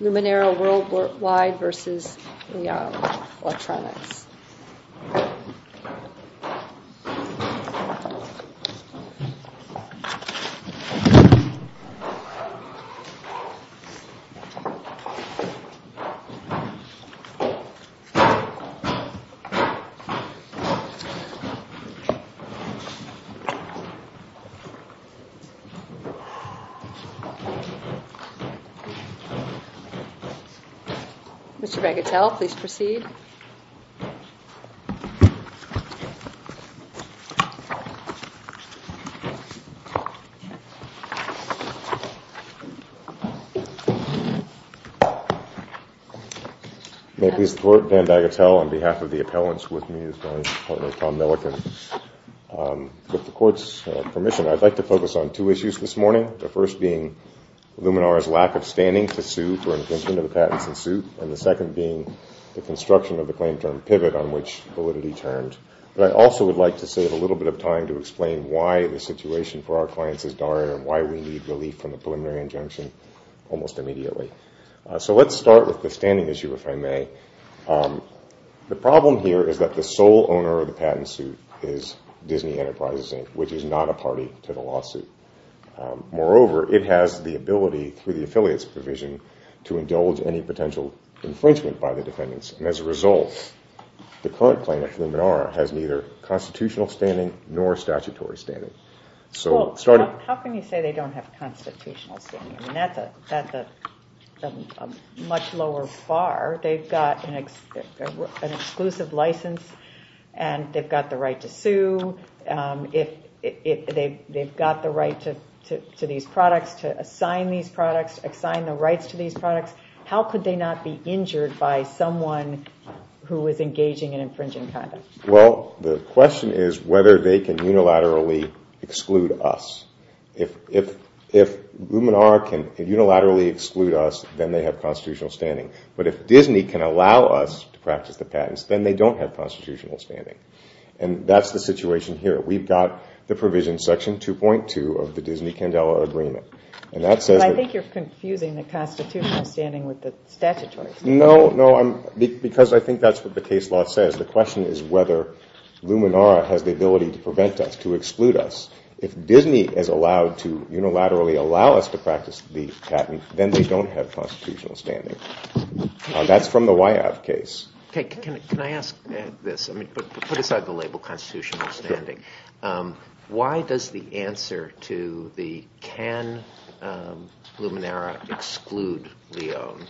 Luminara Worldwide versus Liown Electronics. Mr. Vandagatel, please proceed. May it please the Court, Van Dagatel on behalf of the appellants with me as well as Tom Milliken. With the Court's permission, I'd like to focus on two issues this morning. The first being Luminara's lack of standing to sue for infringement of the patents in suit, and the second being the construction of the claim term pivot on which validity turned. But I also would like to save a little bit of time to explain why the situation for our clients is dire and why we need relief from the preliminary injunction almost immediately. So let's start with the standing issue, if I may. The problem here is that the sole owner of the patent suit is Disney Enterprises, Inc., which is not a party to the lawsuit. Moreover, it has the ability through the affiliate's provision to indulge any potential infringement by the defendants, and as a result, the current claim of Luminara has neither constitutional standing nor statutory standing. How can you say they don't have constitutional standing? That's a much lower bar. They've got an exclusive license, and they've got the right to sue. They've got the right to these products, to assign these products, assign the rights to these products. How could they not be injured by someone who is engaging in infringing conduct? Well, the question is whether they can unilaterally exclude us. If Luminara can unilaterally exclude us, then they have constitutional standing. But if Disney can allow us to practice the patents, then they don't have constitutional standing. And that's the situation here. We've got the provision section 2.2 of the Disney-Candela agreement. I think you're confusing the constitutional standing with the statutory standing. No, because I think that's what the case law says. The question is whether Luminara has the ability to prevent us, to exclude us. If Disney is allowed to unilaterally allow us to practice the patent, then they don't have constitutional standing. That's from the Wyeth case. Can I ask this? Put aside the label constitutional standing. Why does the answer to the can Luminara exclude Leone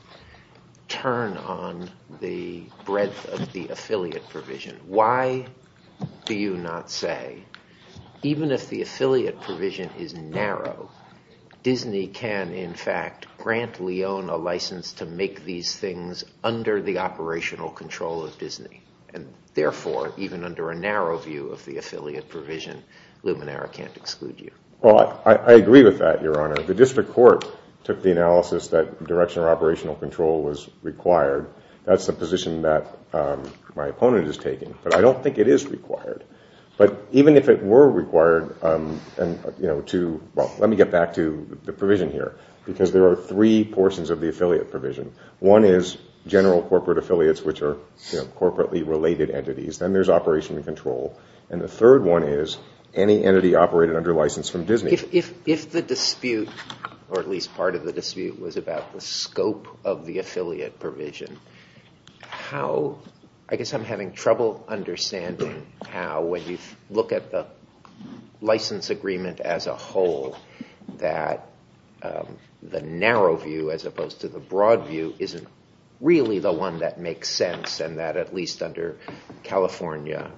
turn on the breadth of the affiliate provision? Why do you not say, even if the affiliate provision is narrow, Disney can, in fact, grant Leone a license to make these things under the operational control of Disney? And therefore, even under a narrow view of the affiliate provision, Luminara can't exclude you. Well, I agree with that, Your Honor. The district court took the analysis that directional operational control was required. That's the position that my opponent is taking. But I don't think it is required. But even if it were required to, well, let me get back to the provision here. Because there are three portions of the affiliate provision. One is general corporate affiliates, which are corporately related entities. Then there's operational control. And the third one is any entity operated under license from Disney. If the dispute, or at least part of the dispute, was about the scope of the affiliate provision, I guess I'm having trouble understanding how, when you look at the license agreement as a whole, that the narrow view as opposed to the broad view isn't really the one that makes sense and that at least under California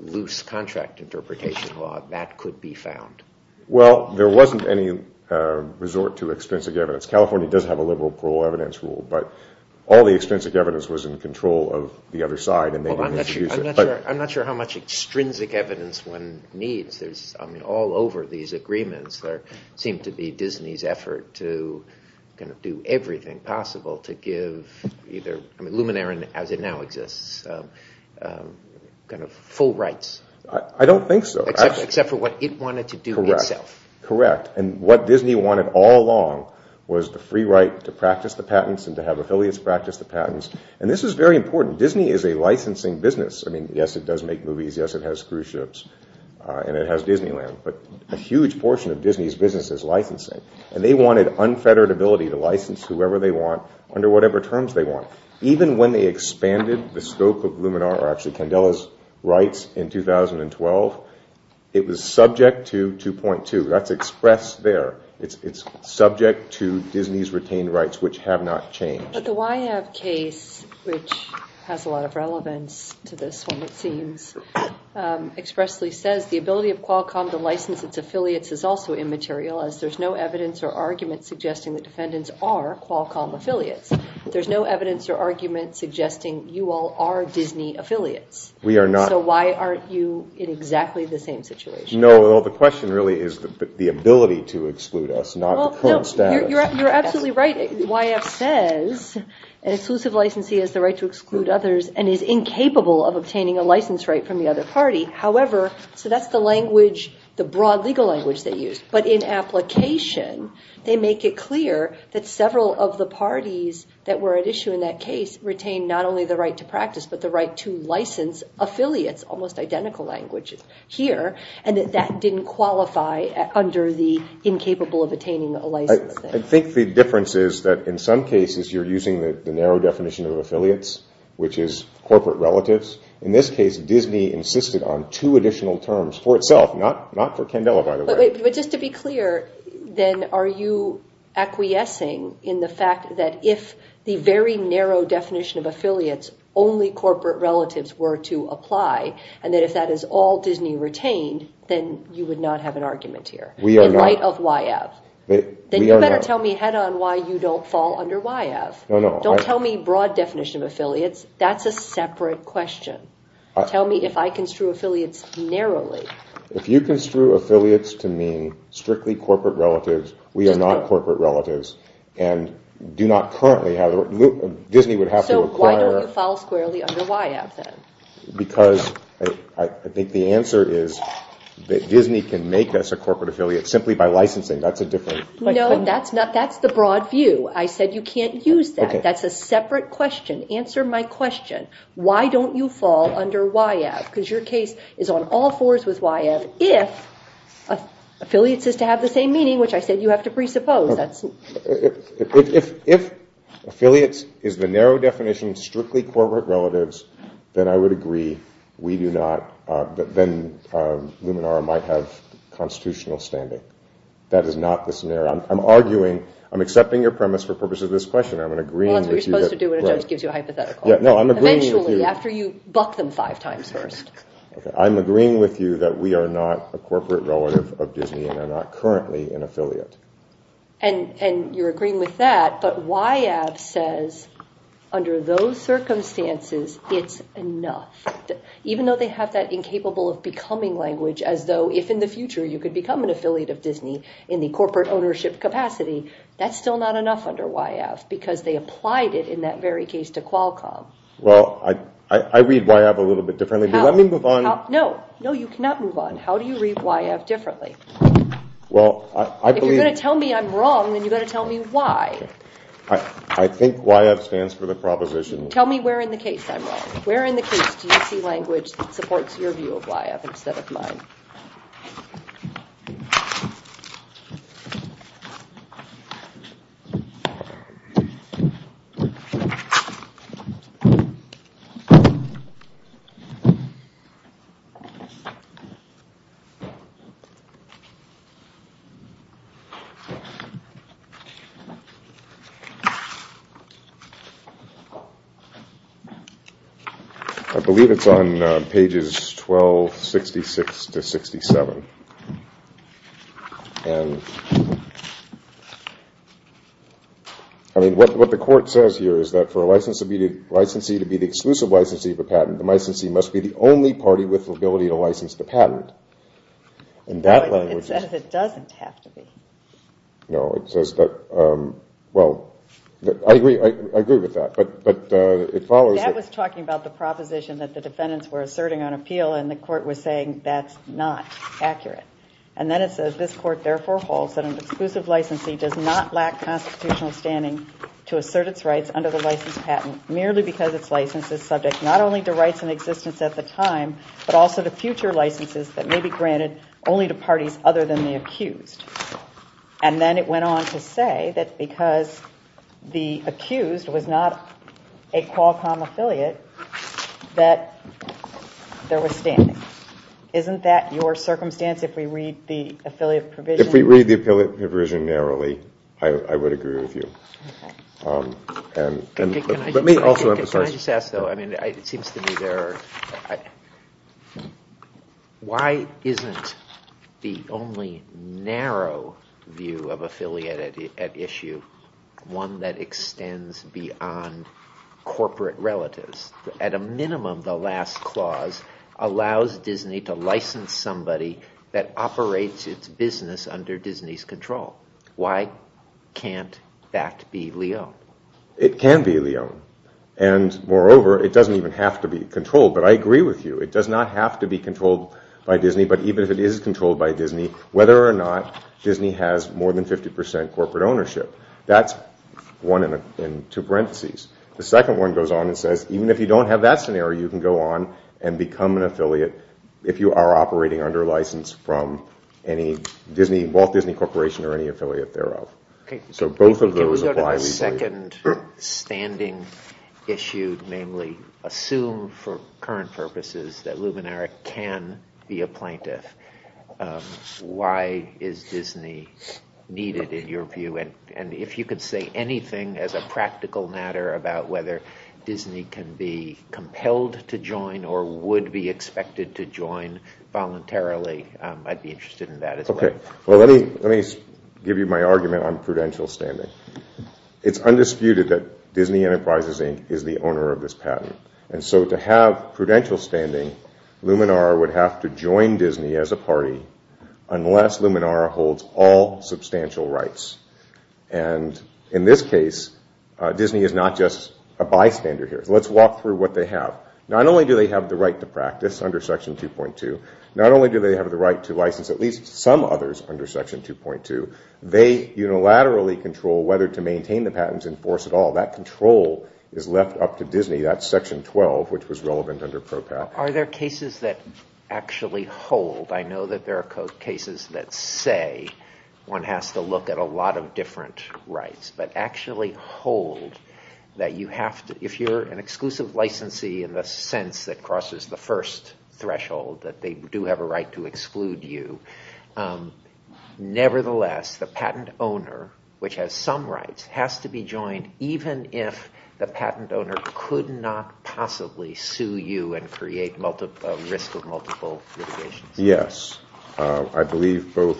loose contract interpretation law, that could be found. Well, there wasn't any resort to extrinsic evidence. California does have a liberal parole evidence rule. But all the extrinsic evidence was in control of the other side. I'm not sure how much extrinsic evidence one needs. I mean, all over these agreements, there seemed to be Disney's effort to kind of do everything possible to give either Luminara, as it now exists, kind of full rights. I don't think so. Except for what it wanted to do itself. Correct. And what Disney wanted all along was the free right to practice the patents and to have affiliates practice the patents. And this was very important. Disney is a licensing business. I mean, yes, it does make movies. Yes, it has cruise ships. And it has Disneyland. But a huge portion of Disney's business is licensing. And they wanted unfettered ability to license whoever they want under whatever terms they want. Even when they expanded the scope of Luminara, actually Candela's rights in 2012, it was subject to 2.2. That's expressed there. It's subject to Disney's retained rights, which have not changed. But the YF case, which has a lot of relevance to this one, it seems, expressly says the ability of Qualcomm to license its affiliates is also immaterial as there's no evidence or argument suggesting the defendants are Qualcomm affiliates. There's no evidence or argument suggesting you all are Disney affiliates. We are not. So why aren't you in exactly the same situation? No, the question really is the ability to exclude us, not the current status. You're absolutely right. YF says an exclusive licensee has the right to exclude others and is incapable of obtaining a license right from the other party. However, so that's the language, the broad legal language they use. But in application, they make it clear that several of the parties that were at issue in that case retained not only the right to practice but the right to license affiliates, almost identical language here, and that that didn't qualify under the incapable of attaining a license thing. I think the difference is that in some cases you're using the narrow definition of affiliates, which is corporate relatives. In this case, Disney insisted on two additional terms for itself, not for Candela, by the way. But just to be clear, then are you acquiescing in the fact that if the very narrow definition of affiliates, only corporate relatives were to apply, and that if that is all Disney retained, then you would not have an argument here? We are not. In light of YF. Then you better tell me head-on why you don't fall under YF. Don't tell me broad definition of affiliates. That's a separate question. Tell me if I construe affiliates narrowly. If you construe affiliates to mean strictly corporate relatives, we are not corporate relatives, and Disney would have to require... So why don't you fall squarely under YF then? Because I think the answer is that Disney can make us a corporate affiliate simply by licensing. No, that's the broad view. I said you can't use that. That's a separate question. Answer my question. Why don't you fall under YF? Because your case is on all fours with YF if affiliates is to have the same meaning, which I said you have to presuppose. If affiliates is the narrow definition of strictly corporate relatives, then I would agree. Then Luminara might have constitutional standing. That is not the scenario. I'm accepting your premise for purposes of this question. That's what you're supposed to do when a judge gives you a hypothetical. Eventually, after you buck them five times first. I'm agreeing with you that we are not a corporate relative of Disney and are not currently an affiliate. And you're agreeing with that, but YF says under those circumstances, it's enough. Even though they have that incapable of becoming language as though if in the future you could become an affiliate of Disney in the corporate ownership capacity, that's still not enough under YF because they applied it in that very case to Qualcomm. I read YF a little bit differently. How do you read YF differently? If you're going to tell me I'm wrong, then you've got to tell me why. I think YF stands for the proposition. Tell me where in the case I'm wrong. Where in the case do you see language that supports your view of YF instead of mine? I believe it's on pages 1266-67. What the court says here is that for a licensee to be the exclusive licensee of a patent, the licensee must be the only party with the ability to license the patent. It says it doesn't have to be. No, it says that... I agree with that, but it follows that... That was talking about the proposition that the defendants were asserting on appeal and the court was saying that's not accurate. And then it says this court therefore holds that an exclusive licensee does not lack constitutional standing to assert its rights under the license patent merely because its license is subject not only to rights in existence at the time, but also to future licenses that may be granted only to parties other than the accused. And then it went on to say that because the accused was not a Qualcomm affiliate, that there was standing. Isn't that your circumstance if we read the affiliate provision? If we read the affiliate provision narrowly, I would agree with you. Can I just ask, though? It seems to me there are... Why isn't the only narrow view of affiliate at issue one that extends beyond corporate relatives? At a minimum, the last clause allows Disney to license somebody that operates its business under Disney's control. Why can't that be Leone? It can be Leone. And moreover, it doesn't even have to be controlled. But I agree with you. It does not have to be controlled by Disney. But even if it is controlled by Disney, whether or not Disney has more than 50% corporate ownership, that's one in two parentheses. The second one goes on and says even if you don't have that scenario, you can go on and become an affiliate if you are operating under license from Walt Disney Corporation or any affiliate thereof. Can we go to the second standing issue, namely assume for current purposes that Luminaric can be a plaintiff. Why is Disney needed in your view? And if you could say anything as a practical matter about whether Disney can be expected to join voluntarily, I'd be interested in that as well. Let me give you my argument on prudential standing. It's undisputed that Disney Enterprises Inc. is the owner of this patent. And so to have prudential standing, Luminaric would have to join Disney as a party unless Luminaric holds all substantial rights. And in this case, Disney is not just a bystander here. Let's walk through what they have. Not only do they have the right to practice under Section 2.2, not only do they have the right to license at least some others under Section 2.2, they unilaterally control whether to maintain the patents in force at all. That control is left up to Disney. That's Section 12, which was relevant under PROPAT. Are there cases that actually hold? I know that there are cases that say one has to look at a lot of different rights, but actually hold that if you're an exclusive licensee in the sense that crosses the first threshold, that they do have a right to exclude you. Nevertheless, the patent owner, which has some rights, has to be joined even if the patent owner could not possibly sue you and create a risk of multiple litigation. Yes. I believe both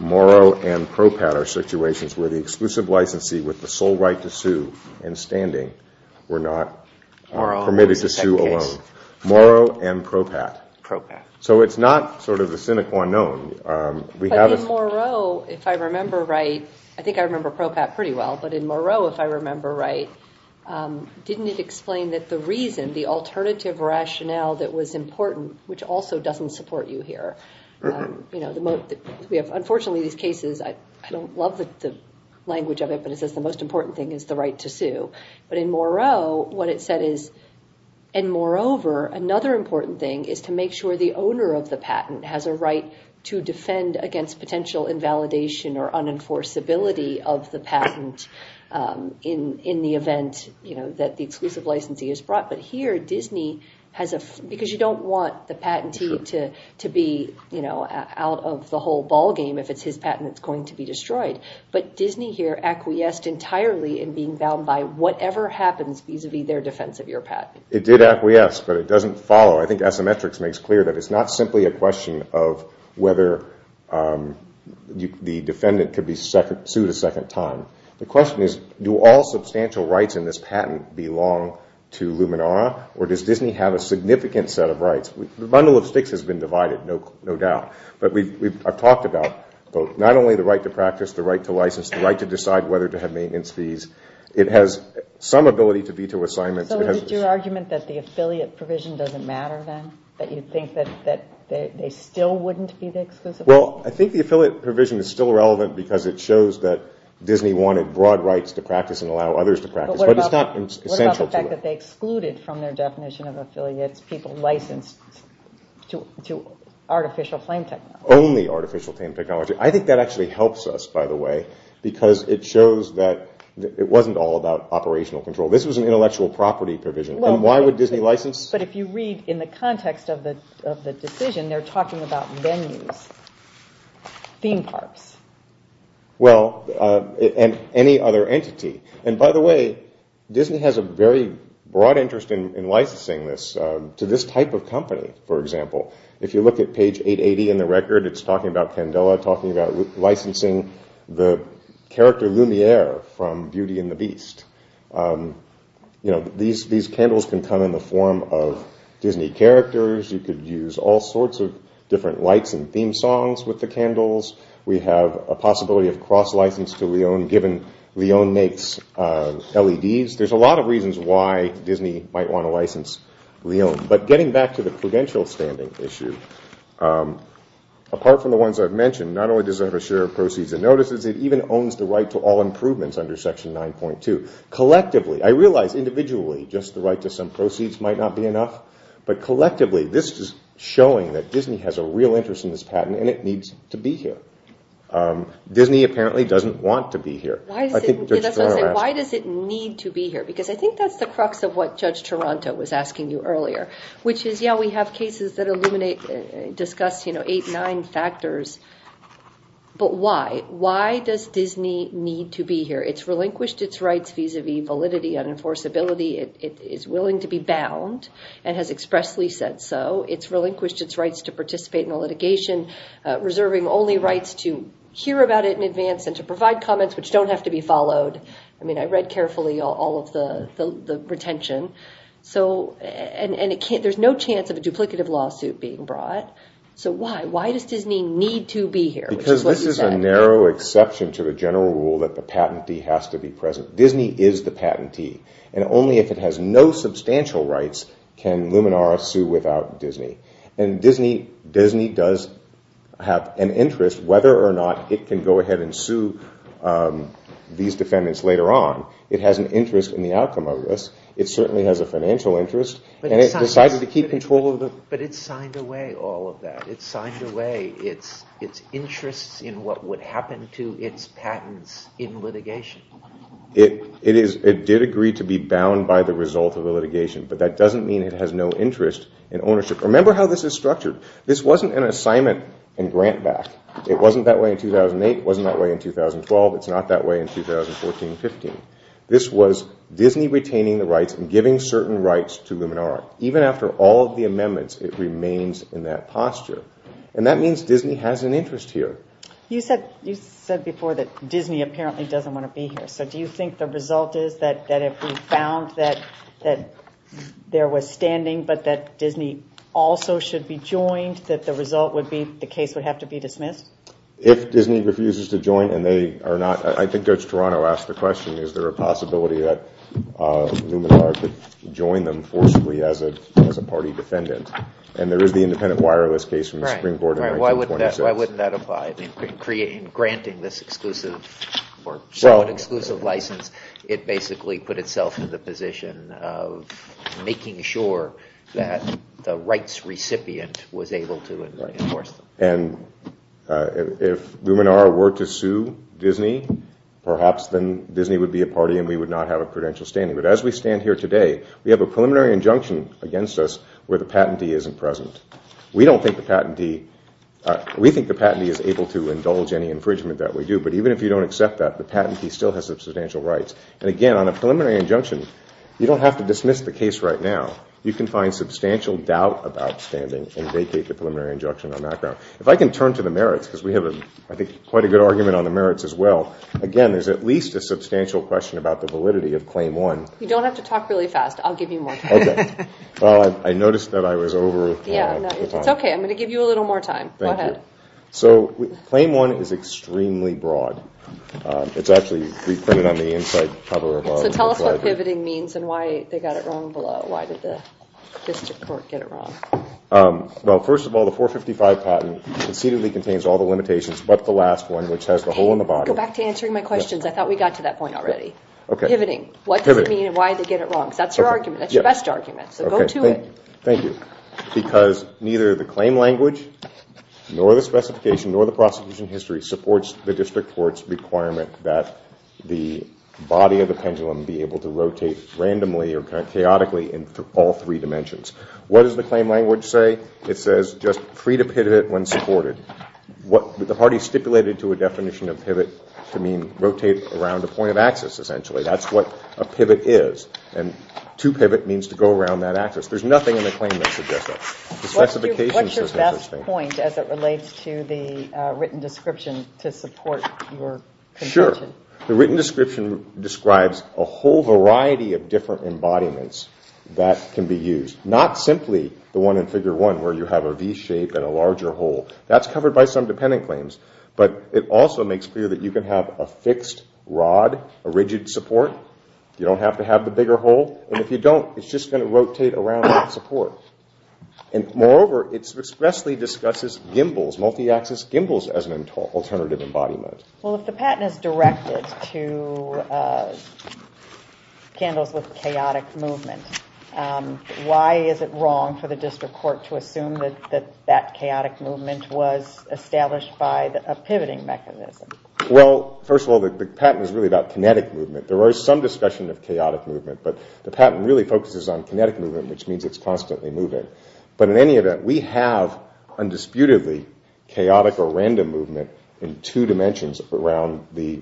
Morrow and PROPAT are situations where the exclusive licensee with the sole right to sue in standing were not permitted to sue alone. Morrow and PROPAT. So it's not sort of a sine qua non. But in Morrow, if I remember right, I think I remember PROPAT pretty well, but in Morrow, if I remember right, didn't it explain that the reason, the alternative rationale that was important, which also doesn't support you here. Unfortunately, these cases, I don't love the language of it, but it says the most important thing is the right to sue. But in Morrow, what it said is, and moreover, another important thing is to make sure the owner of the patent has a right to defend against potential invalidation or unenforceability of the patent in the event that the exclusive licensee is brought. But here, Disney, because you don't want the patentee to be out of the whole ball game if it's his patent that's going to be destroyed. But Disney here acquiesced entirely in being bound by whatever happens vis-a-vis their defense of your patent. It did acquiesce, but it doesn't follow. I think Asymmetrics makes clear that it's not simply a question of whether the defendant could be sued a second time. The question is, do all substantial rights in this patent belong to Luminara, or does Disney have a significant set of rights? The bundle of sticks has been divided, no doubt. But I've talked about not only the right to practice, the right to license, the right to decide whether to have maintenance fees, it has some ability to veto assignments. So is it your argument that the affiliate provision doesn't matter then? That you think that they still wouldn't be the exclusive rights? Well, I think the affiliate provision is still relevant because it shows that Disney wanted broad rights to practice and allow others to practice, but it's not essential to it. What about the fact that they excluded from their definition of affiliates people licensed to artificial flame technology? Only artificial flame technology. I think that actually helps us, by the way, because it shows that it wasn't all about operational control. This was an intellectual property provision, and why would Disney license? But if you read in the context of the decision, they're talking about venues, theme parks. Well, and any other entity. And by the way, Disney has a very broad interest in licensing this to this type of company, for example. If you look at page 880 in the record, it's talking about Candela, talking about licensing the character Lumiere from Beauty and the Beast. These candles can come in the form of Disney characters. You could use all sorts of different lights and theme songs with the candles. We have a possibility of cross-license to Leone given Leone makes LEDs. There's a lot of reasons why Disney might want to license Leone. But getting back to the credential standing issue, apart from the ones I've mentioned, not only does it have a share of proceeds and notices, it even owns the right to all improvements under Section 9.2. Collectively, I realize individually just the right to some proceeds might not be enough, but collectively this is showing that Disney has a real interest in this patent and it needs to be here. Disney apparently doesn't want to be here. Why does it need to be here? I think that's the crux of what Judge Toronto was asking you earlier. We have cases that discuss 8 or 9 factors, but why? Why does Disney need to be here? It's relinquished its rights vis-à-vis validity and enforceability. It is willing to be bound and has expressly said so. It's relinquished its rights to participate in a litigation reserving only rights to hear about it in advance and to provide comments which don't have to be followed. I read carefully all of the retention. There's no chance of a duplicative lawsuit being brought. So why? Why does Disney need to be here? This is a narrow exception to the general rule that the patentee has to be present. Disney is the patentee. Only if it has no substantial rights can Luminara sue without Disney. Disney does have an interest, whether or not it can go ahead and sue these defendants later on. It has an interest in the outcome of this. It certainly has a financial interest. It decided to keep control of the... But it signed away all of that. It signed away its interests in what would happen to its patents in litigation. It did agree to be bound by the result of the litigation, but that doesn't mean it has no interest in ownership. Remember how this is structured. This wasn't an assignment in grant back. It wasn't that way in 2008. It wasn't that way in 2012. It's not that way in 2014-15. This was Disney retaining the rights and giving certain rights to Luminara. Even after all of the amendments, it remains in that posture. That means Disney has an interest here. You said before that Disney apparently doesn't want to be here. Do you think the result is that if we found that there was standing, but that Disney also should be joined, that the result would be the case would have to be dismissed? If Disney refuses to join and they are not... I think Judge Toronto asked the question, is there a possibility that Luminara could join them forcefully as a party defendant? There is the independent wireless case from the Supreme Court in 1926. Right. Why wouldn't that apply in granting this exclusive... exclusive license? It basically put itself in the position of making sure that the rights recipient was able to enforce them. If Luminara were to sue Disney, perhaps then Disney would be a party and we would not have a prudential standing. But as we stand here today, we have a preliminary injunction against us where the patentee isn't present. We think the patentee is able to indulge any infringement that we do, but even if you don't accept that, the patentee still has substantial rights. And again, on a preliminary injunction, you don't have to dismiss the case right now. You can find substantial doubt about standing and vacate the preliminary injunction on that ground. If I can turn to the merits, because we have, I think, quite a good argument on the merits as well. Again, there's at least a substantial question about the validity of Claim 1. You don't have to talk really fast. I'll give you more time. Well, I noticed that I was over... It's okay. I'm going to give you a little more time. Go ahead. So, Claim 1 is extremely broad. It's actually reprinted on the inside cover of... So tell us what pivoting means and why they got it wrong below. Why did the district court get it wrong? Well, first of all, the 455 patent concededly contains all the limitations but the last one, which has the hole in the bottom... Hey, go back to answering my questions. I thought we got to that point already. Pivoting. What does it mean and why did they get it wrong? That's your argument. That's your best argument. So go to it. Thank you. Because neither the claim language nor the specification nor the prosecution history supports the district court's requirement that the body of the pendulum be able to rotate randomly or chaotically in all three dimensions. What does the claim language say? It says just free to pivot when supported. The party stipulated to a definition of pivot to mean rotate around a point of access, essentially. That's what a pivot is and to pivot means to go around that access. There's nothing in the claim that suggests that. What's your best point as it relates to the written description to support your conclusion? Sure. The written description describes a whole variety of different embodiments that can be used. Not simply the one in Figure 1 where you have a V shape and a larger hole. That's covered by some dependent claims. But it also makes clear that you can have a fixed rod, a rigid support. You don't have to have the bigger hole. And if you don't, it's just going to rotate around that support. And moreover, it expressly discusses gimbals, multi-axis gimbals, as an alternative embodiment. Well, if the patent is directed to candles with chaotic movement, why is it wrong for the district court to assume that that chaotic movement was established by a pivoting mechanism? Well, first of all, the patent is really about kinetic movement. There is some discussion of chaotic movement, but the patent really focuses on kinetic movement, which means it's constantly moving. But in any event, we have, undisputedly, chaotic or random movement in two dimensions around the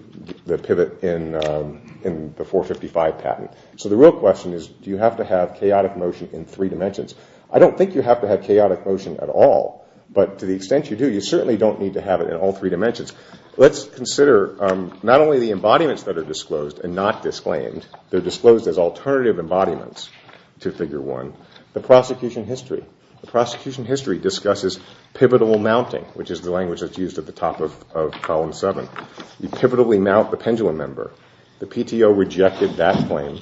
pivot in the 455 patent. So the real question is, do you have to have chaotic motion in three dimensions? I don't think you have to have chaotic motion at all, but to the extent you do, you certainly don't need to have it in all three dimensions. Let's consider not only the embodiments that are disclosed and not disclaimed, they're disclosed as alternative embodiments to Figure 1. The prosecution history discusses pivotal mounting, which is the language that's used at the top of Column 7. You pivotally mount the pendulum member. The PTO rejected that claim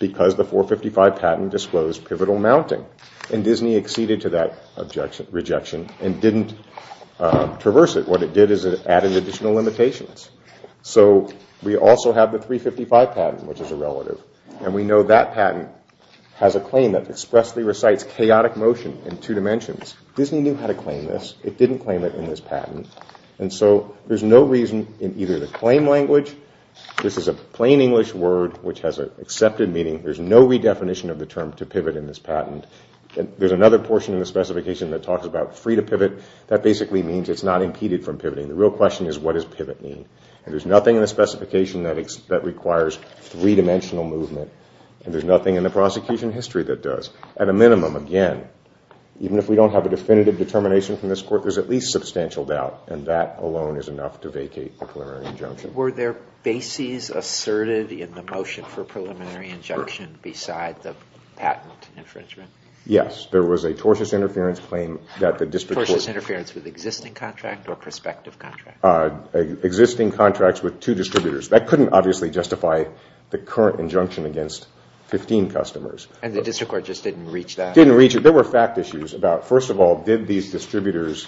because the 455 patent disclosed pivotal mounting. And Disney acceded to that rejection and didn't traverse it. What it did is it added additional limitations. So we also have the 355 patent, which is a relative. And we know that patent has a claim that expressly recites chaotic motion in two dimensions. Disney knew how to claim this. It didn't claim it in this patent. And so there's no reason in either the claim language this is a plain English word which has an accepted meaning. There's no redefinition of the term to pivot in this patent. There's another portion of the specification that talks about free to pivot. That basically means it's not impeded from pivoting. The real question is what does pivot mean? And there's nothing in the specification that requires three-dimensional movement. And there's nothing in the prosecution history that does. At a minimum, again, even if we don't have a definitive determination from this Court, there's at least substantial doubt. And that alone is enough to vacate the preliminary injunction. Were there bases asserted in the motion for preliminary injunction beside the patent infringement? Yes. There was a tortious interference claim that the district court... Tortious interference with existing contract or prospective contract? Existing contracts with two distributors. That couldn't obviously justify the current injunction against 15 customers. And the district court just didn't reach that? Didn't reach it. There were fact issues about, first of all, did these distributors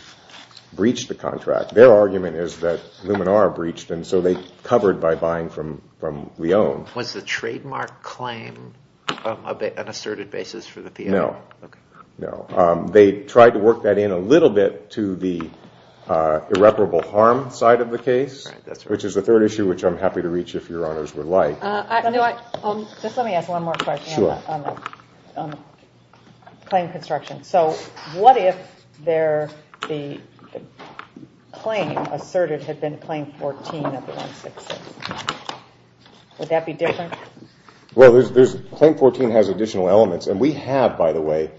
breach the contract? Their argument is that Luminar breached it, and so they covered by buying from Leone. Was the trademark claim an asserted basis for the theory? No. No. They tried to work that in a little bit to the irreparable harm side of the case, which is the third issue which I'm happy to reach if Your Honors would like. Just let me ask one more question on the claim construction. So what if there be a patent infringement? What if the claim asserted had been Claim 14 of the 166? Would that be different? Well, Claim 14 has additional elements, and we have, by the way,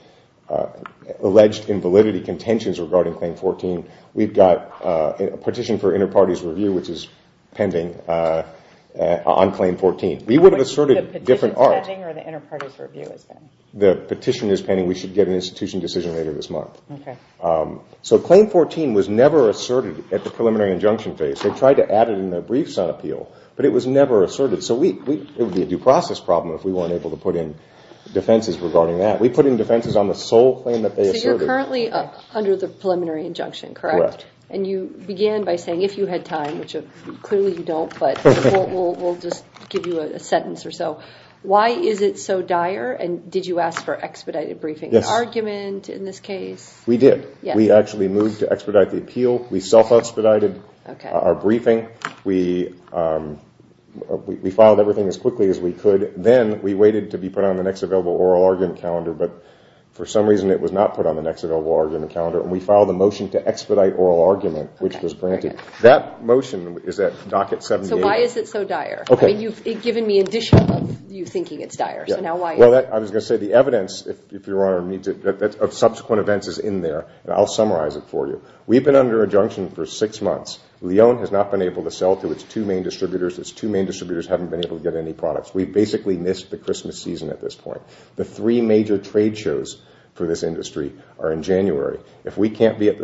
alleged invalidity contentions regarding Claim 14. We've got a petition for inter-parties review, which is pending on Claim 14. We would have asserted different art. The petition is pending, or the inter-parties review is pending? The petition is pending. We should get an institution decision later this month. So Claim 14 was never asserted at the preliminary injunction phase. They tried to add it in their briefs on appeal, but it was never asserted, so it would be a due process problem if we weren't able to put in defenses regarding that. We put in defenses on the sole claim that they asserted. So you're currently under the preliminary injunction, correct? Correct. And you began by saying, if you had time, which clearly you don't, but we'll just give you a sentence or so, why is it so dire, and did you ask for expedited briefing? Yes. Argument in this case? We did. We actually moved to expedite the appeal. We self-expedited our briefing. We filed everything as quickly as we could. Then we waited to be put on the next available oral argument calendar, but for some reason it was not put on the next available argument calendar, and we filed a motion to expedite oral argument, which was granted. That motion is at Docket 78. So why is it so dire? I mean, you've given me additional of you thinking it's dire, so now why? Well, I was going to say the evidence, if Your Honor needs it, of subsequent events is in there, and I'll summarize it for you. We've been under injunction for six months. Lyon has not been able to sell to its two main distributors. Its two main distributors haven't been able to get any products. We've basically missed the Christmas season at this point. The three major trade shows for this industry are in January. If we can't be at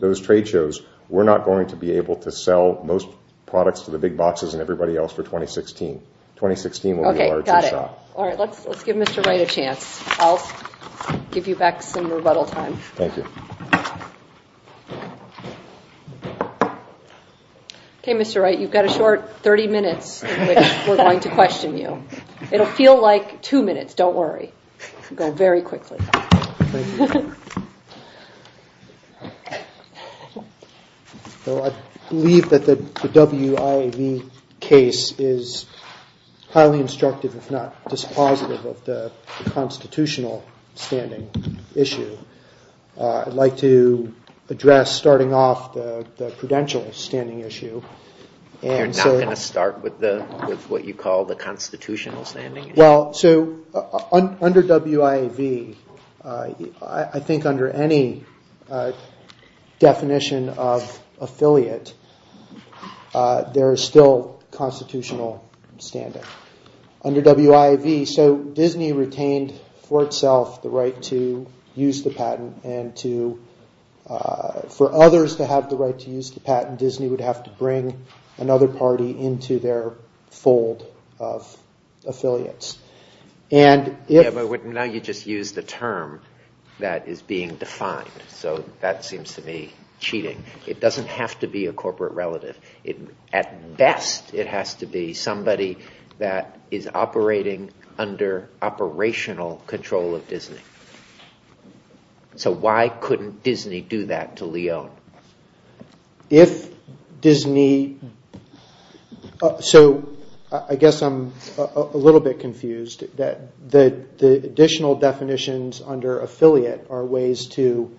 those trade shows, we're not going to be able to sell most products to the big boxes and everybody else for 2016. 2016 will be a larger shot. Okay, got it. All right, let's give Mr. Wright a chance. I'll give you back some rebuttal time. Thank you. Okay, Mr. Wright, you've got a short 30 minutes in which we're going to question you. It'll feel like two minutes, don't worry. We'll go very quickly. Well, I believe that the WIAV case is highly instructive, if not dispositive of the constitutional standing issue. I'd like to address, starting off, the prudential standing issue. You're not going to start with what you call the constitutional standing issue? Under WIAV, I think under any definition of affiliate, there is still constitutional standing. Under WIAV, Disney retained for itself the right to use the patent, and for others to have the right to use the patent, Disney would have to bring another party into their fold of affiliates. Now you just used the term that is being defined, so that seems to me cheating. It doesn't have to be a corporate relative. At best, it has to be somebody that is operating under operational control of Disney. So why couldn't Disney do that to Lyon? I guess I'm a little bit confused. The additional definitions under affiliate are ways to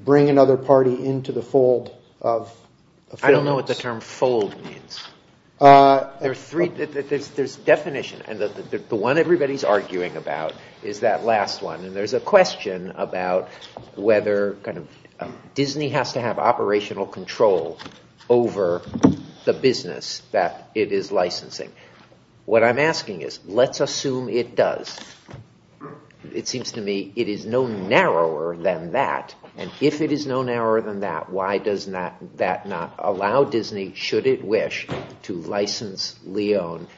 bring another party into the fold of affiliates. I don't know what the term fold means. There's definition, and the one everybody is arguing about is that last one. There's a question about whether Disney has to have operational control over the business that it is licensing. What I'm asking is, let's assume it does. It seems to me it is no narrower than that, and if it is no narrower than that, why does that not allow Disney, should it wish, to license Lyon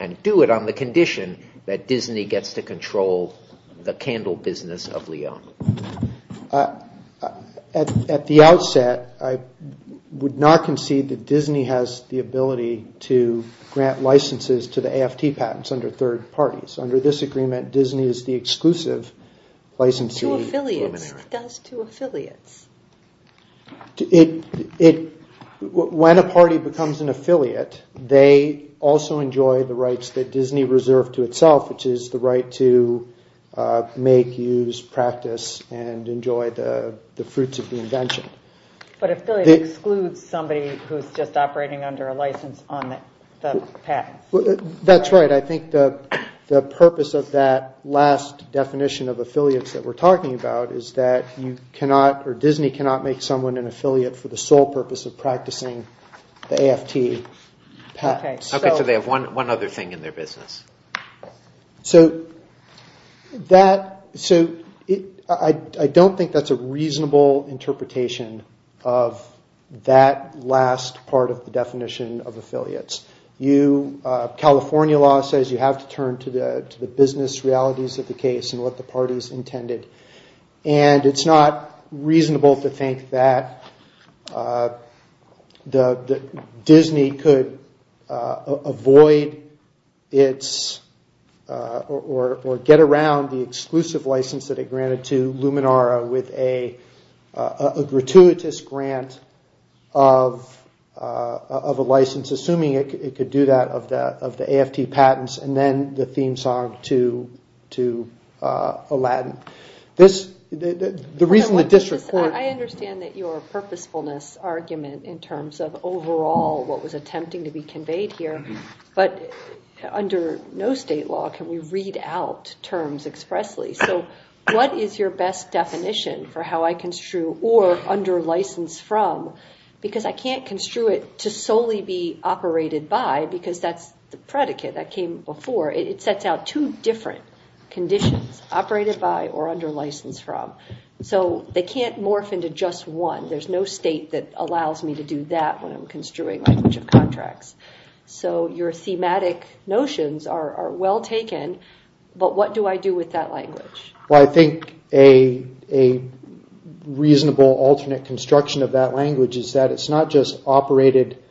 and do it on the condition that Disney gets to control the candle business of Lyon? At the outset, I would not concede that Disney has the ability to grant licenses to the AFT patents under third parties. Under this agreement, Disney is the exclusive licensee. To affiliates. It does to affiliates. When a party becomes an affiliate, they also enjoy the rights that Disney reserved to itself, which is the right to make, use, practice, and enjoy the fruits of the invention. But affiliates exclude somebody who is just operating under a license on the patent. That's right. I think the purpose of that last definition of affiliates that we're talking about is that Disney cannot make someone an affiliate for the sole purpose of practicing the AFT patent. Okay, so they have one other thing in their business. I don't think that's a reasonable interpretation of that last part of the definition of affiliates. California law says you have to turn to the business realities of the case and what the parties intended. It's not reasonable to think that Disney could avoid or get around the exclusive license that it granted to Luminara with a gratuitous grant of a license, assuming it could do that, of the AFT patents, and then the theme song to Aladdin. I understand that your purposefulness argument in terms of overall what was attempting to be conveyed here, but under no state law can we read out terms expressly. So what is your best definition for how I construe or under license from? Because I can't construe it to solely be operated by because that's the predicate that came before. It sets out two different conditions, operated by or under license from. So they can't morph into just one. There's no state that allows me to do that when I'm construing language of contracts. So your thematic notions are well taken, but what do I do with that language? Well, I think a reasonable alternate construction of that language is that it's not just operated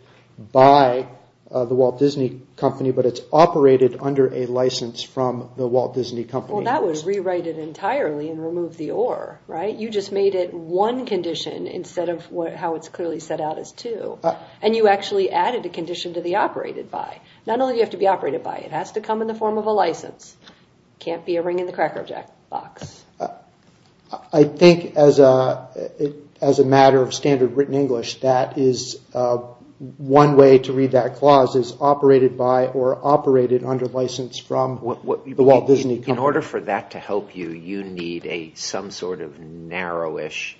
by the Walt Disney Company, but it's operated under a license from the Walt Disney Company. Well, that would rewrite it entirely and remove the or, right? You just made it one condition instead of how it's clearly set out as two. And you actually added a condition to the operated by. Not only do you have to be operated by, it has to come in the form of a license. It can't be a ring in the cracker box. I think as a matter of standard written English, that is one way to read that clause is operated by or operated under license from the Walt Disney Company. In order for that to help you, you need some sort of narrowish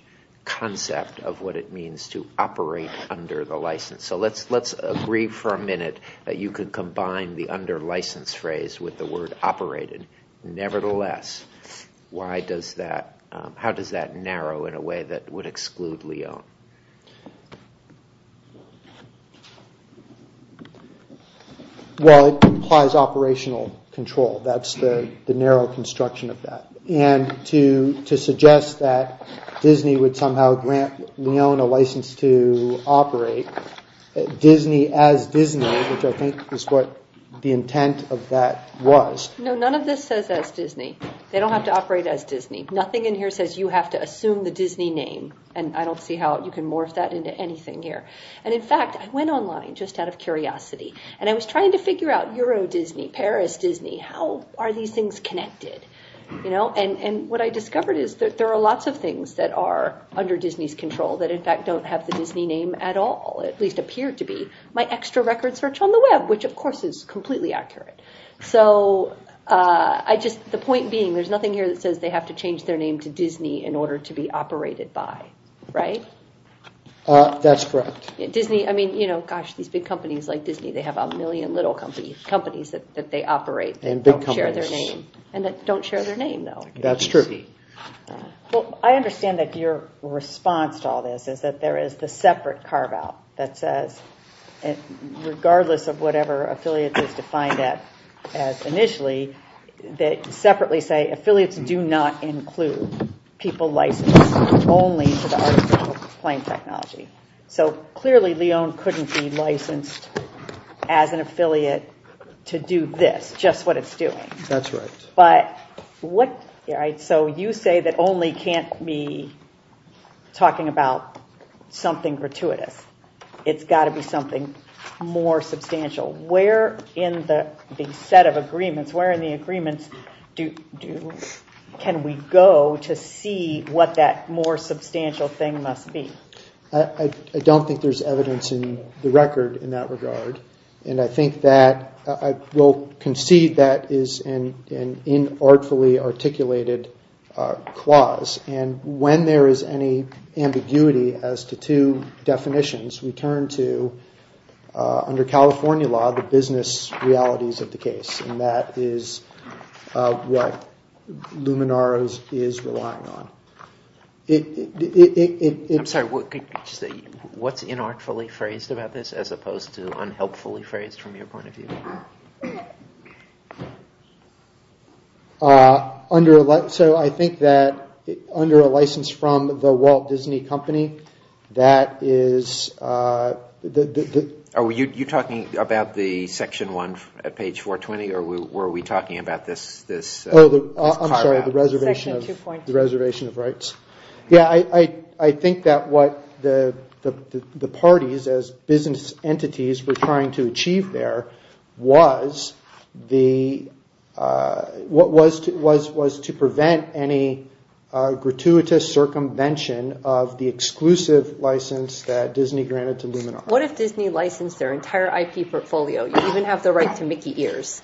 concept of what it means to operate under the license. So let's agree for a minute that you could combine the under license phrase with the word operated. Nevertheless, how does that narrow in a way that would exclude Leone? Well, it implies operational control. That's the narrow construction of that. And to suggest that Disney would somehow grant Leone a license to operate, Disney as Disney, which I think is what the intent of that was. No, none of this says as Disney. They don't have to operate as Disney. Nothing in here says you have to assume the Disney name. And I don't see how you can morph that into anything here. And in fact, I went online just out of curiosity. And I was trying to figure out Euro Disney, Paris Disney. How are these things connected? And what I discovered is that there are lots of things that are under Disney's control that in fact don't have the Disney name at all. At least appear to be. My extra record search on the web, which of course is completely accurate. So the point being, there's nothing here that says they have to change their name to Disney in order to be operated by, right? That's correct. I mean, gosh, these big companies like Disney, they have a million little companies that they operate that don't share their name. And that don't share their name, though. That's true. Well, I understand that your response to all this is that there is the separate carve-out that says, regardless of whatever affiliates is defined as initially, that separately say affiliates do not include people licensed only to the art of plane technology. So clearly, Lyon couldn't be licensed as an affiliate to do this, just what it's doing. That's right. So you say that only can't be talking about something gratuitous. It's got to be something more substantial. Where in the set of agreements, where in the agreements can we go to see what that more substantial thing must be? I don't think there's evidence in the record in that regard. And I think that I will concede that is an inartfully articulated clause. And when there is any ambiguity as to two definitions, we turn to, under California law, the business realities of the case. And that is what Luminaro's is relying on. I'm sorry, what's inartfully phrased about this as opposed to unhelpfully phrased from your point of view? So I think that under a license from the Walt Disney Company, that is... Are you talking about the section one at page 420? Or were we talking about this carve-out? I'm sorry, the reservation of rights. Yeah, I think that what the parties as business entities were trying to achieve there was to prevent any gratuitous circumvention of the exclusive license that Disney granted to Luminaro. What if Disney licensed their entire IP portfolio? You even have the right to Mickey ears.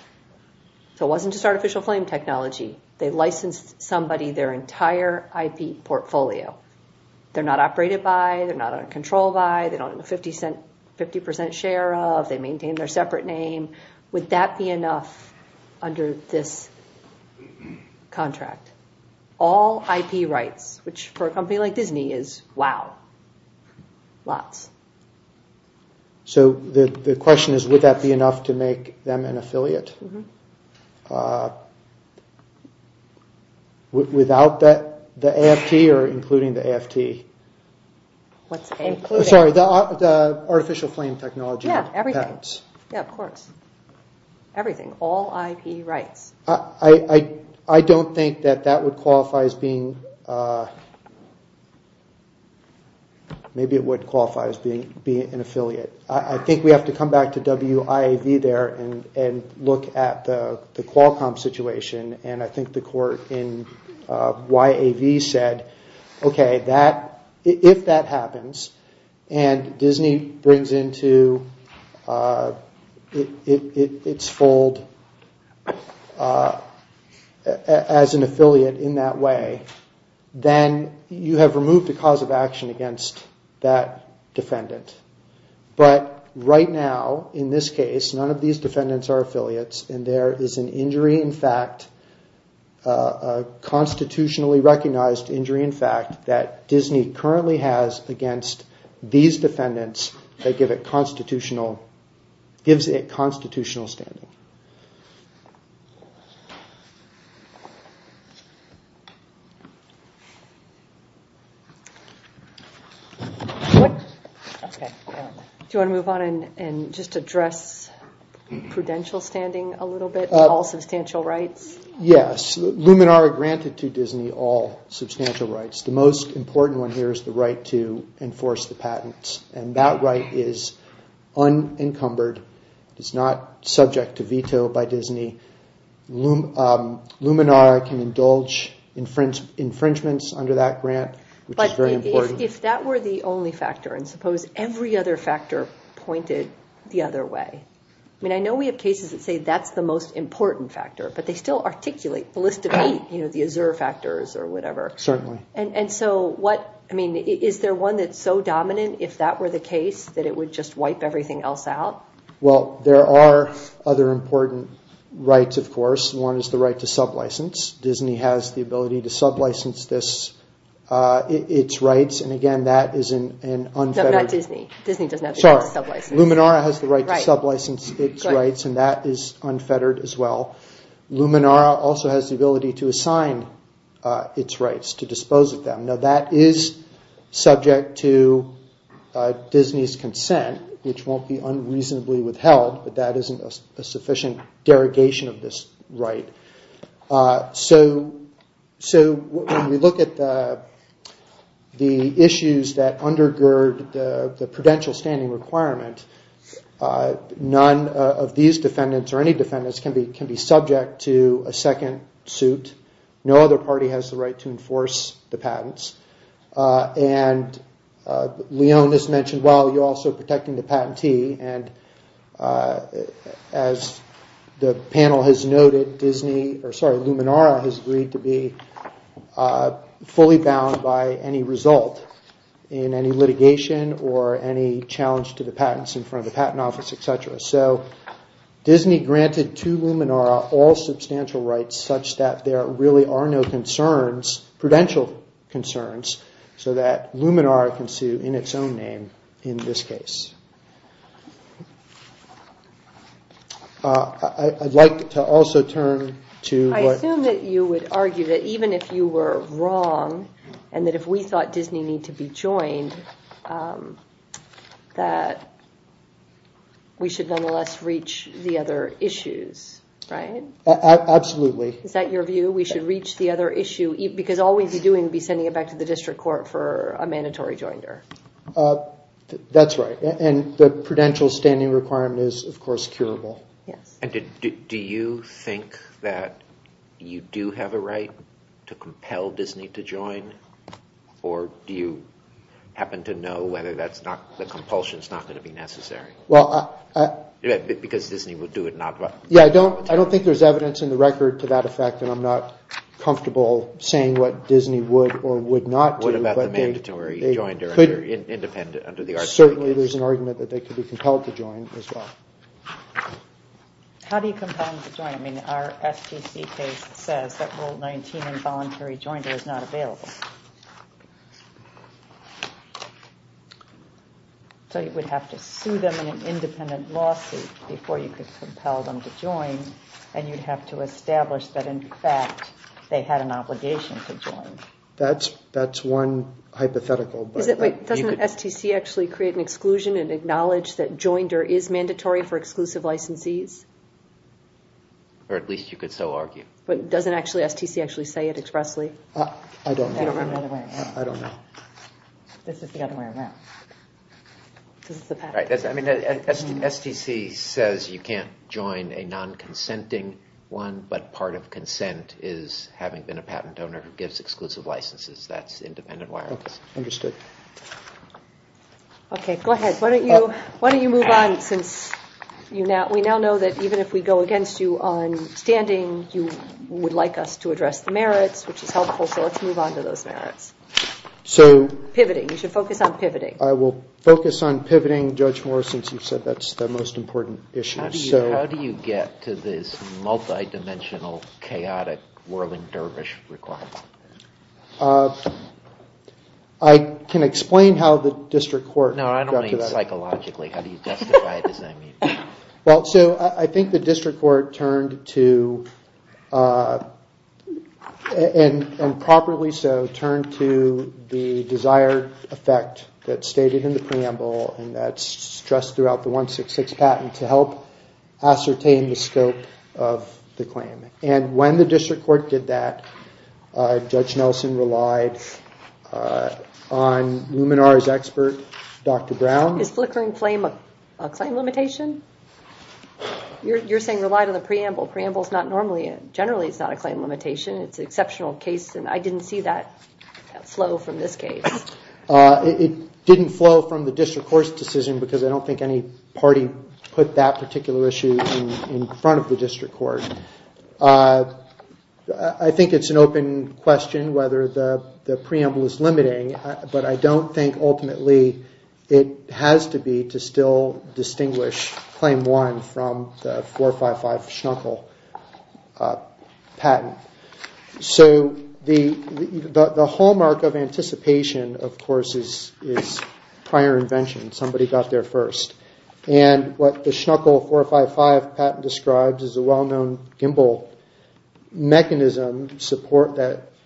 So it wasn't just artificial flame technology. They licensed somebody their entire IP portfolio. They're not operated by, they're not under control by, they don't have a 50% share of, they maintain their separate name. Would that be enough under this contract? All IP rights, which for a company like Disney is, wow, lots. So the question is, would that be enough to make them an affiliate? Without the AFT or including the AFT? Sorry, the artificial flame technology patents. Yeah, of course. Everything, all IP rights. I don't think that that would qualify as being an affiliate. I think we have to come back to WIAV there and look at the Qualcomm situation. And I think the court in WIAV said, okay, if that happens, and Disney brings into its fold as an affiliate in that way, then you have removed the cause of action against that defendant. But right now, in this case, none of these defendants are affiliates. And there is an injury, in fact, a constitutionally recognized injury, in fact, that Disney currently has against these defendants that gives it constitutional standing. Do you want to move on and just address prudential standing a little bit? All substantial rights? Yes. Luminara granted to Disney all substantial rights. The most important one here is the right to enforce the patents. And that right is unencumbered. It's not subject to any kind of law. Luminara can indulge infringements under that grant, which is very important. But if that were the only factor, and suppose every other factor pointed the other way, I mean, I know we have cases that say that's the most important factor, but they still articulate the list of eight, the Azure factors or whatever. Certainly. And so is there one that's so dominant, if that were the case, that it would just wipe everything else out? Well, there are other important rights, of course. One is the right to sublicense. Disney has the ability to sublicense its rights. And again, that is an unfettered… No, not Disney. Disney doesn't have the right to sublicense. Sorry. Luminara has the right to sublicense its rights, and that is unfettered as well. Luminara also has the ability to assign its rights, to dispose of them. Now that is subject to Disney's consent, which won't be unreasonably withheld, but that isn't a sufficient derogation of this right. So when we look at the issues that undergird the prudential standing requirement, none of these defendants or any defendants can be subject to a second suit. No other party has the right to enforce the patents. And Leonis mentioned, well, you're also protecting the patentee. And as the panel has noted, Luminara has agreed to be fully bound by any result in any litigation or any challenge to the patents in front of the patent office, etc. So Disney granted to Luminara all substantial rights such that there really are no concerns, prudential concerns, so that Luminara can sue in its own name in this case. I'd like to also turn to… I assume that you would argue that even if you were wrong, and that if we thought Disney needed to be joined, that we should nonetheless reach the other issues, right? Absolutely. Is that your view? We should reach the other issue? Because all we'd be doing would be sending it back to the district court for a mandatory joinder. That's right. And the prudential standing requirement is, of course, curable. And do you think that you do have a right to compel Disney to join? Or do you happen to know whether the compulsion is not going to be necessary? Because Disney would do it, not… Yeah, I don't think there's evidence in the record to that effect, and I'm not comfortable saying what Disney would or would not do. What about the mandatory joinder, independent under the… Certainly there's an argument that they could be compelled to join as well. How do you compel them to join? I mean, our STC case says that Rule 19, involuntary joinder, is not available. So you would have to sue them in an independent lawsuit before you could compel them to join, and you'd have to establish that, in fact, they had an obligation to join. That's one hypothetical, but… Doesn't STC actually create an exclusion and acknowledge that joinder is mandatory for exclusive licensees? Or at least you could so argue. But doesn't STC actually say it expressly? I don't know. This is the other way around. STC says you can't join a non-consenting one, but part of consent is having been a patent owner who gives exclusive licenses. That's independent wireless. Understood. Okay, go ahead. Why don't you move on since we now know that even if we go against you on standing, you would like us to address the merits, which is helpful. So let's move on to those merits. So… Pivoting. You should focus on pivoting. I will focus on pivoting, Judge Morrison, since you said that's the most important issue. How do you get to this multidimensional, chaotic, whirling dervish requirement? I can explain how the district court got to that. No, I don't mean psychologically. How do you justify it is what I mean. Well, so I think the district court turned to, and properly so, turned to the desired effect that's stated in the preamble and that's stressed throughout the 166 patent to help ascertain the scope of the claim. And when the district court did that, Judge Nelson relied on Luminar's expert, Dr. Brown. Is flickering flame a claim limitation? You're saying relied on the preamble. Preamble's not normally, generally it's not a claim limitation. It's an exceptional case and I didn't see that flow from this case. It didn't flow from the district court's decision because I don't think any party put that particular issue in front of the district court. I think it's an open question whether the preamble is limiting, but I don't think ultimately it has to be to still distinguish claim one from the 455 Schnuckel patent. So the hallmark of anticipation, of course, is prior invention. Somebody got there first. And what the Schnuckel 455 patent describes is a well-known gimbal mechanism that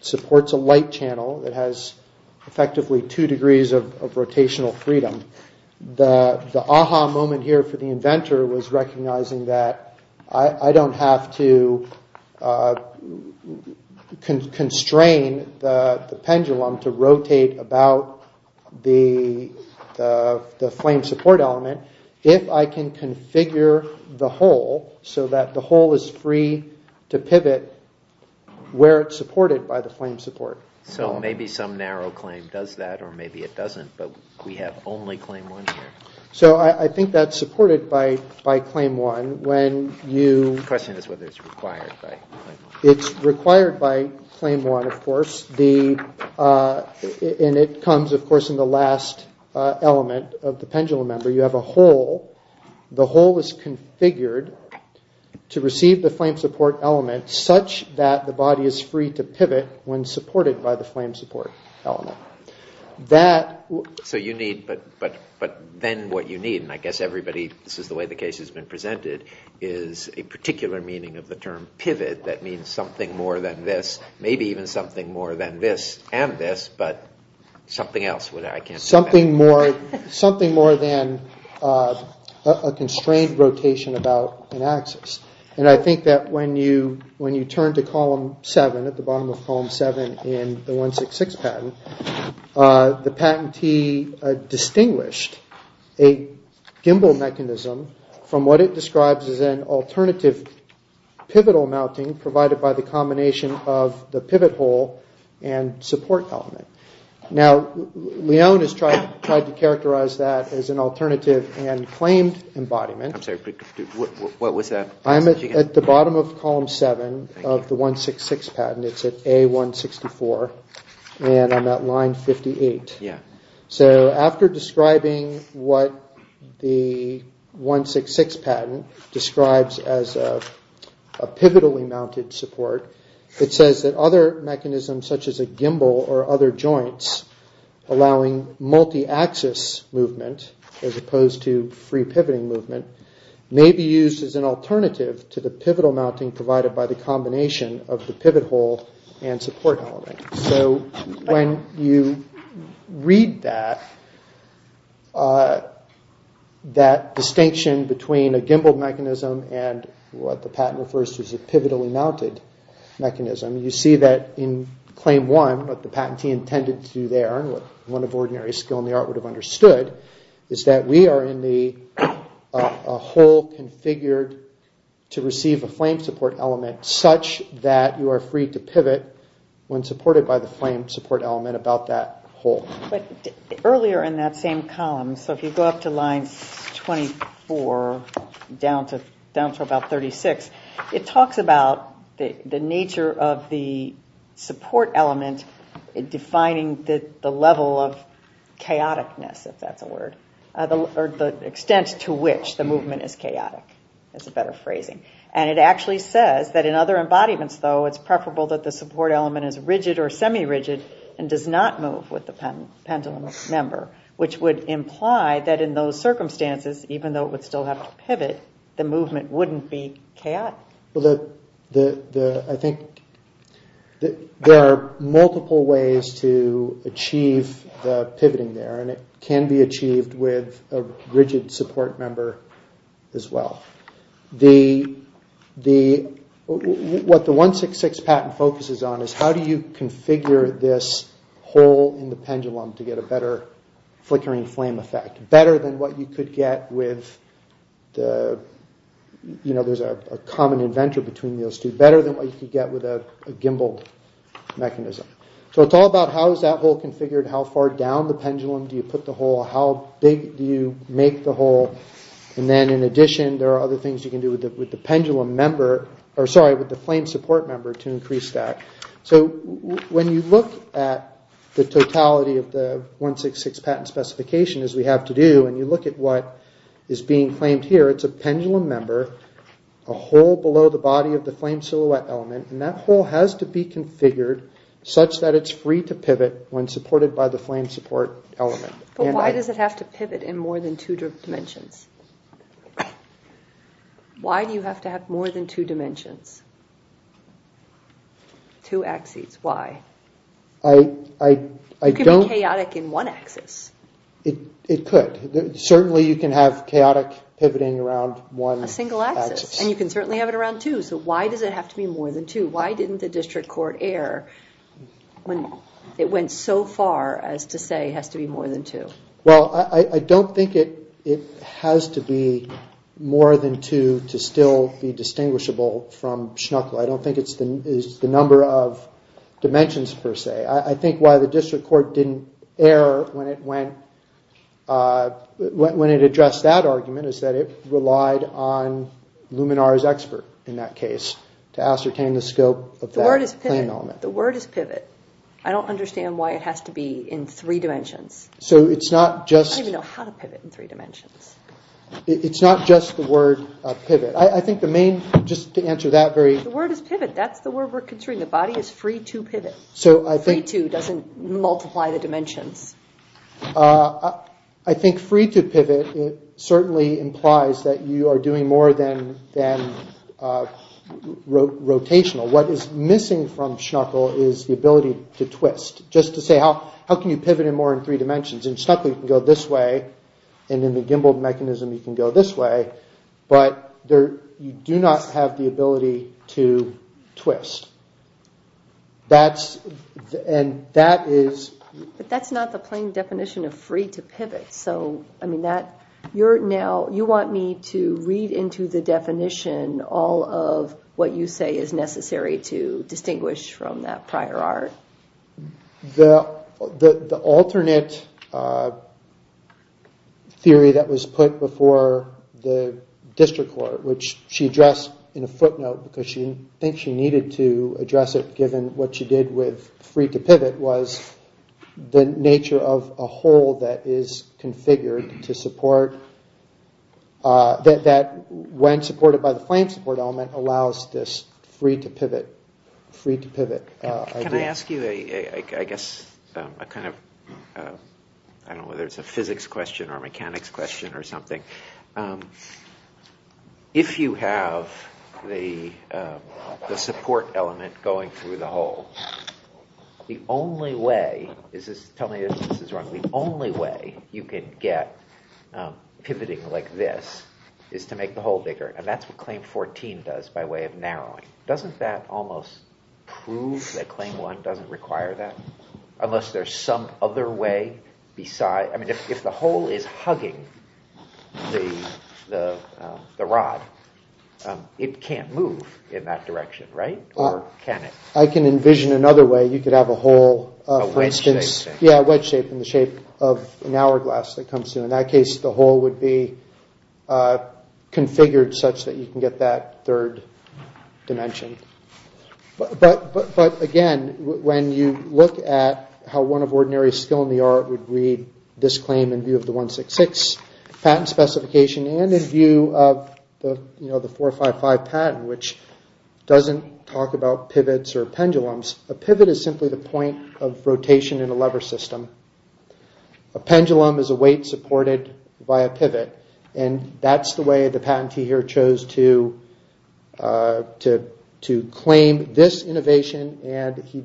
supports a light channel that has effectively two degrees of rotational freedom. The aha moment here for the inventor was recognizing that I don't have to constrain the pendulum to rotate about the flame support element, if I can configure the hole so that the hole is free to pivot where it's supported by the flame support. So maybe some narrow claim does that or maybe it doesn't, but we have only claim one here. So I think that's supported by claim one when you... The question is whether it's required by claim one. It's required by claim one, of course. And it comes, of course, in the last element of the pendulum member. So you have a hole. The hole is configured to receive the flame support element such that the body is free to pivot when supported by the flame support element. That... So you need, but then what you need, and I guess everybody, this is the way the case has been presented, is a particular meaning of the term pivot that means something more than this, maybe even something more than this and this, but something else. Something more than a constrained rotation about an axis. And I think that when you turn to column seven, at the bottom of column seven in the 166 patent, the patentee distinguished a gimbal mechanism from what it describes as an alternative pivotal mounting provided by the combination of the pivot hole and support element. Now, Leon has tried to characterize that as an alternative and claimed embodiment. I'm sorry, what was that? I'm at the bottom of column seven of the 166 patent. It's at A164 and I'm at line 58. Yeah. So after describing what the 166 patent describes as a pivotally mounted support, it says that other mechanisms such as a gimbal or other joints allowing multi-axis movement as opposed to free pivoting movement may be used as an alternative to the pivotal mounting provided by the combination of the pivot hole and support element. So when you read that, that distinction between a gimbal mechanism and what the patent refers to as a pivotally mounted mechanism, you see that in claim one, what the patentee intended to do there and what one of ordinary skill in the art would have understood is that we are in a hole configured to receive a flame support element such that you are free to pivot when supported by the flame support element about that hole. But earlier in that same column, so if you go up to line 24 down to about 36, it talks about the nature of the support element defining the level of chaoticness, if that's a word, or the extent to which the movement is chaotic. That's a better phrasing. And it actually says that in other embodiments, though, it's preferable that the support element is rigid or semi-rigid and does not move with the pendulum member, which would imply that in those circumstances, even though it would still have to pivot, the movement wouldn't be chaotic. Well, I think there are multiple ways to achieve the pivoting there, and it can be achieved with a rigid support member as well. What the 166 patent focuses on is how do you configure this hole in the pendulum to get a better flickering flame effect, better than what you could get with, you know, there's a common inventor between those two, better than what you could get with a gimbal mechanism. So it's all about how is that hole configured, how far down the pendulum do you put the hole, how big do you make the hole, and then in addition, there are other things you can do with the pendulum member, or sorry, with the flame support member to increase that. So when you look at the totality of the 166 patent specification, as we have to do, and you look at what is being claimed here, it's a pendulum member, a hole below the body of the flame silhouette element, and that hole has to be configured such that it's free to pivot when supported by the flame support element. But why does it have to pivot in more than two dimensions? Why do you have to have more than two dimensions? Two axes, why? You can be chaotic in one axis. It could. Certainly you can have chaotic pivoting around one axis. A single axis, and you can certainly have it around two. So why does it have to be more than two? Why didn't the district court err when it went so far as to say it has to be more than two? Well, I don't think it has to be more than two to still be distinguishable from Schnuckel. I don't think it's the number of dimensions per se. I think why the district court didn't err when it addressed that argument is that it relied on Luminar's expert in that case to ascertain the scope of that flame element. The word is pivot. I don't understand why it has to be in three dimensions. So it's not just... I don't even know how to pivot in three dimensions. It's not just the word pivot. I think the main, just to answer that very... The word is pivot. That's the word we're considering. The body is free to pivot. Free to doesn't multiply the dimensions. I think free to pivot certainly implies that you are doing more than rotational. What is missing from Schnuckel is the ability to twist. Just to say, how can you pivot in more than three dimensions? In Schnuckel you can go this way, and in the gimballed mechanism you can go this way, but you do not have the ability to twist. That's... But that's not the plain definition of free to pivot. You want me to read into the definition all of what you say is necessary to distinguish from that prior art? The alternate theory that was put before the district court, which she addressed in a footnote because she thinks she needed to address it given what she did with free to pivot, was the nature of a hole that is configured to support... that when supported by the flame support element allows this free to pivot idea. Can I ask you, I guess, a kind of... I don't know whether it's a physics question or a mechanics question or something. If you have the support element going through the hole, the only way... Tell me if this is wrong. The only way you can get pivoting like this is to make the hole bigger, and that's what Claim 14 does by way of narrowing. Doesn't that almost prove that Claim 1 doesn't require that? Unless there's some other way besides... I mean, if the hole is hugging the rod, it can't move in that direction, right? Or can it? I can envision another way. You could have a hole, for instance... A wedge shape. Yeah, a wedge shape in the shape of an hourglass that comes through. In that case, the hole would be configured such that you can get that third dimension. But again, when you look at how one of ordinary skill in the art would read this claim in view of the 166 patent specification and in view of the 455 patent, which doesn't talk about pivots or pendulums, a pivot is simply the point of rotation in a lever system. A pendulum is a weight supported by a pivot, and that's the way the patentee here chose to claim this innovation, and he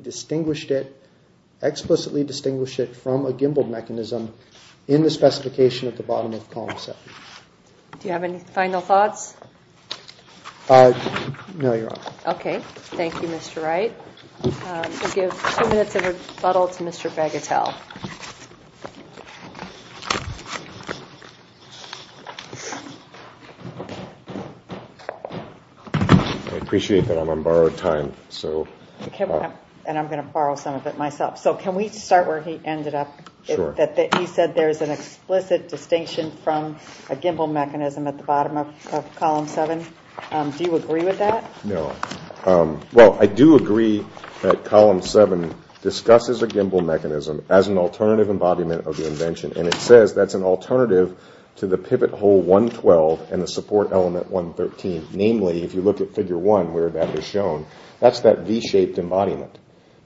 explicitly distinguished it from a gimbal mechanism in the specification at the bottom of column 7. Do you have any final thoughts? No, you're on. Okay. Thank you, Mr. Wright. We'll give two minutes of rebuttal to Mr. Bagatelle. I appreciate that I'm on borrowed time, so... And I'm going to borrow some of it myself. So can we start where he ended up? Sure. He said there's an explicit distinction from a gimbal mechanism at the bottom of column 7. Do you agree with that? No. Well, I do agree that column 7 discusses a gimbal mechanism as an alternative embodiment of the invention, and it says that's an alternative to the pivot hole 112 and the support element 113. Namely, if you look at figure 1 where that is shown, that's that V-shaped embodiment.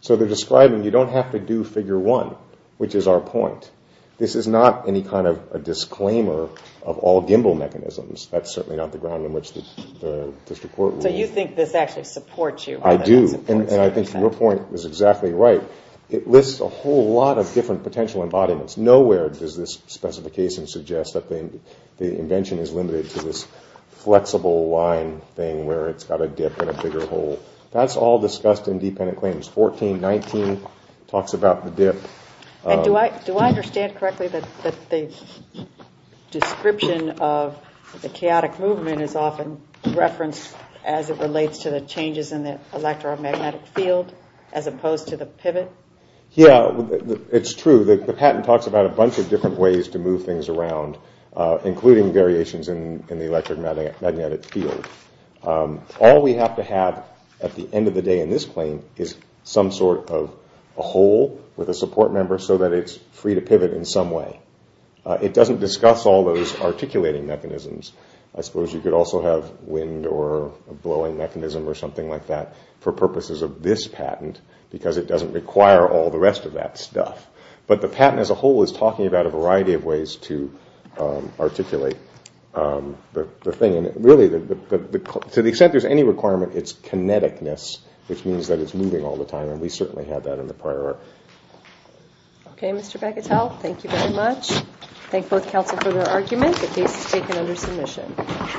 So they're describing you don't have to do figure 1, which is our point. This is not any kind of a disclaimer of all gimbal mechanisms. That's certainly not the ground on which the district court rules. So you think this actually supports you? I do, and I think your point is exactly right. It lists a whole lot of different potential embodiments. Nowhere does this specification suggest that the invention is limited to this flexible line thing where it's got a dip and a bigger hole. That's all discussed in dependent claims. 1419 talks about the dip. Do I understand correctly that the description of the chaotic movement is often referenced as it relates to the changes in the electromagnetic field as opposed to the pivot? Yeah, it's true. The patent talks about a bunch of different ways to move things around, including variations in the electromagnetic field. All we have to have at the end of the day in this claim is some sort of a hole with a support member so that it's free to pivot in some way. It doesn't discuss all those articulating mechanisms. I suppose you could also have wind or a blowing mechanism or something like that for purposes of this patent because it doesn't require all the rest of that stuff. But the patent as a whole is talking about a variety of ways to articulate the thing. Really, to the extent there's any requirement, it's kineticness, which means that it's moving all the time, and we certainly had that in the prior article. Okay, Mr. Becatel, thank you very much. Thank both counsel for their argument. The case is taken under submission.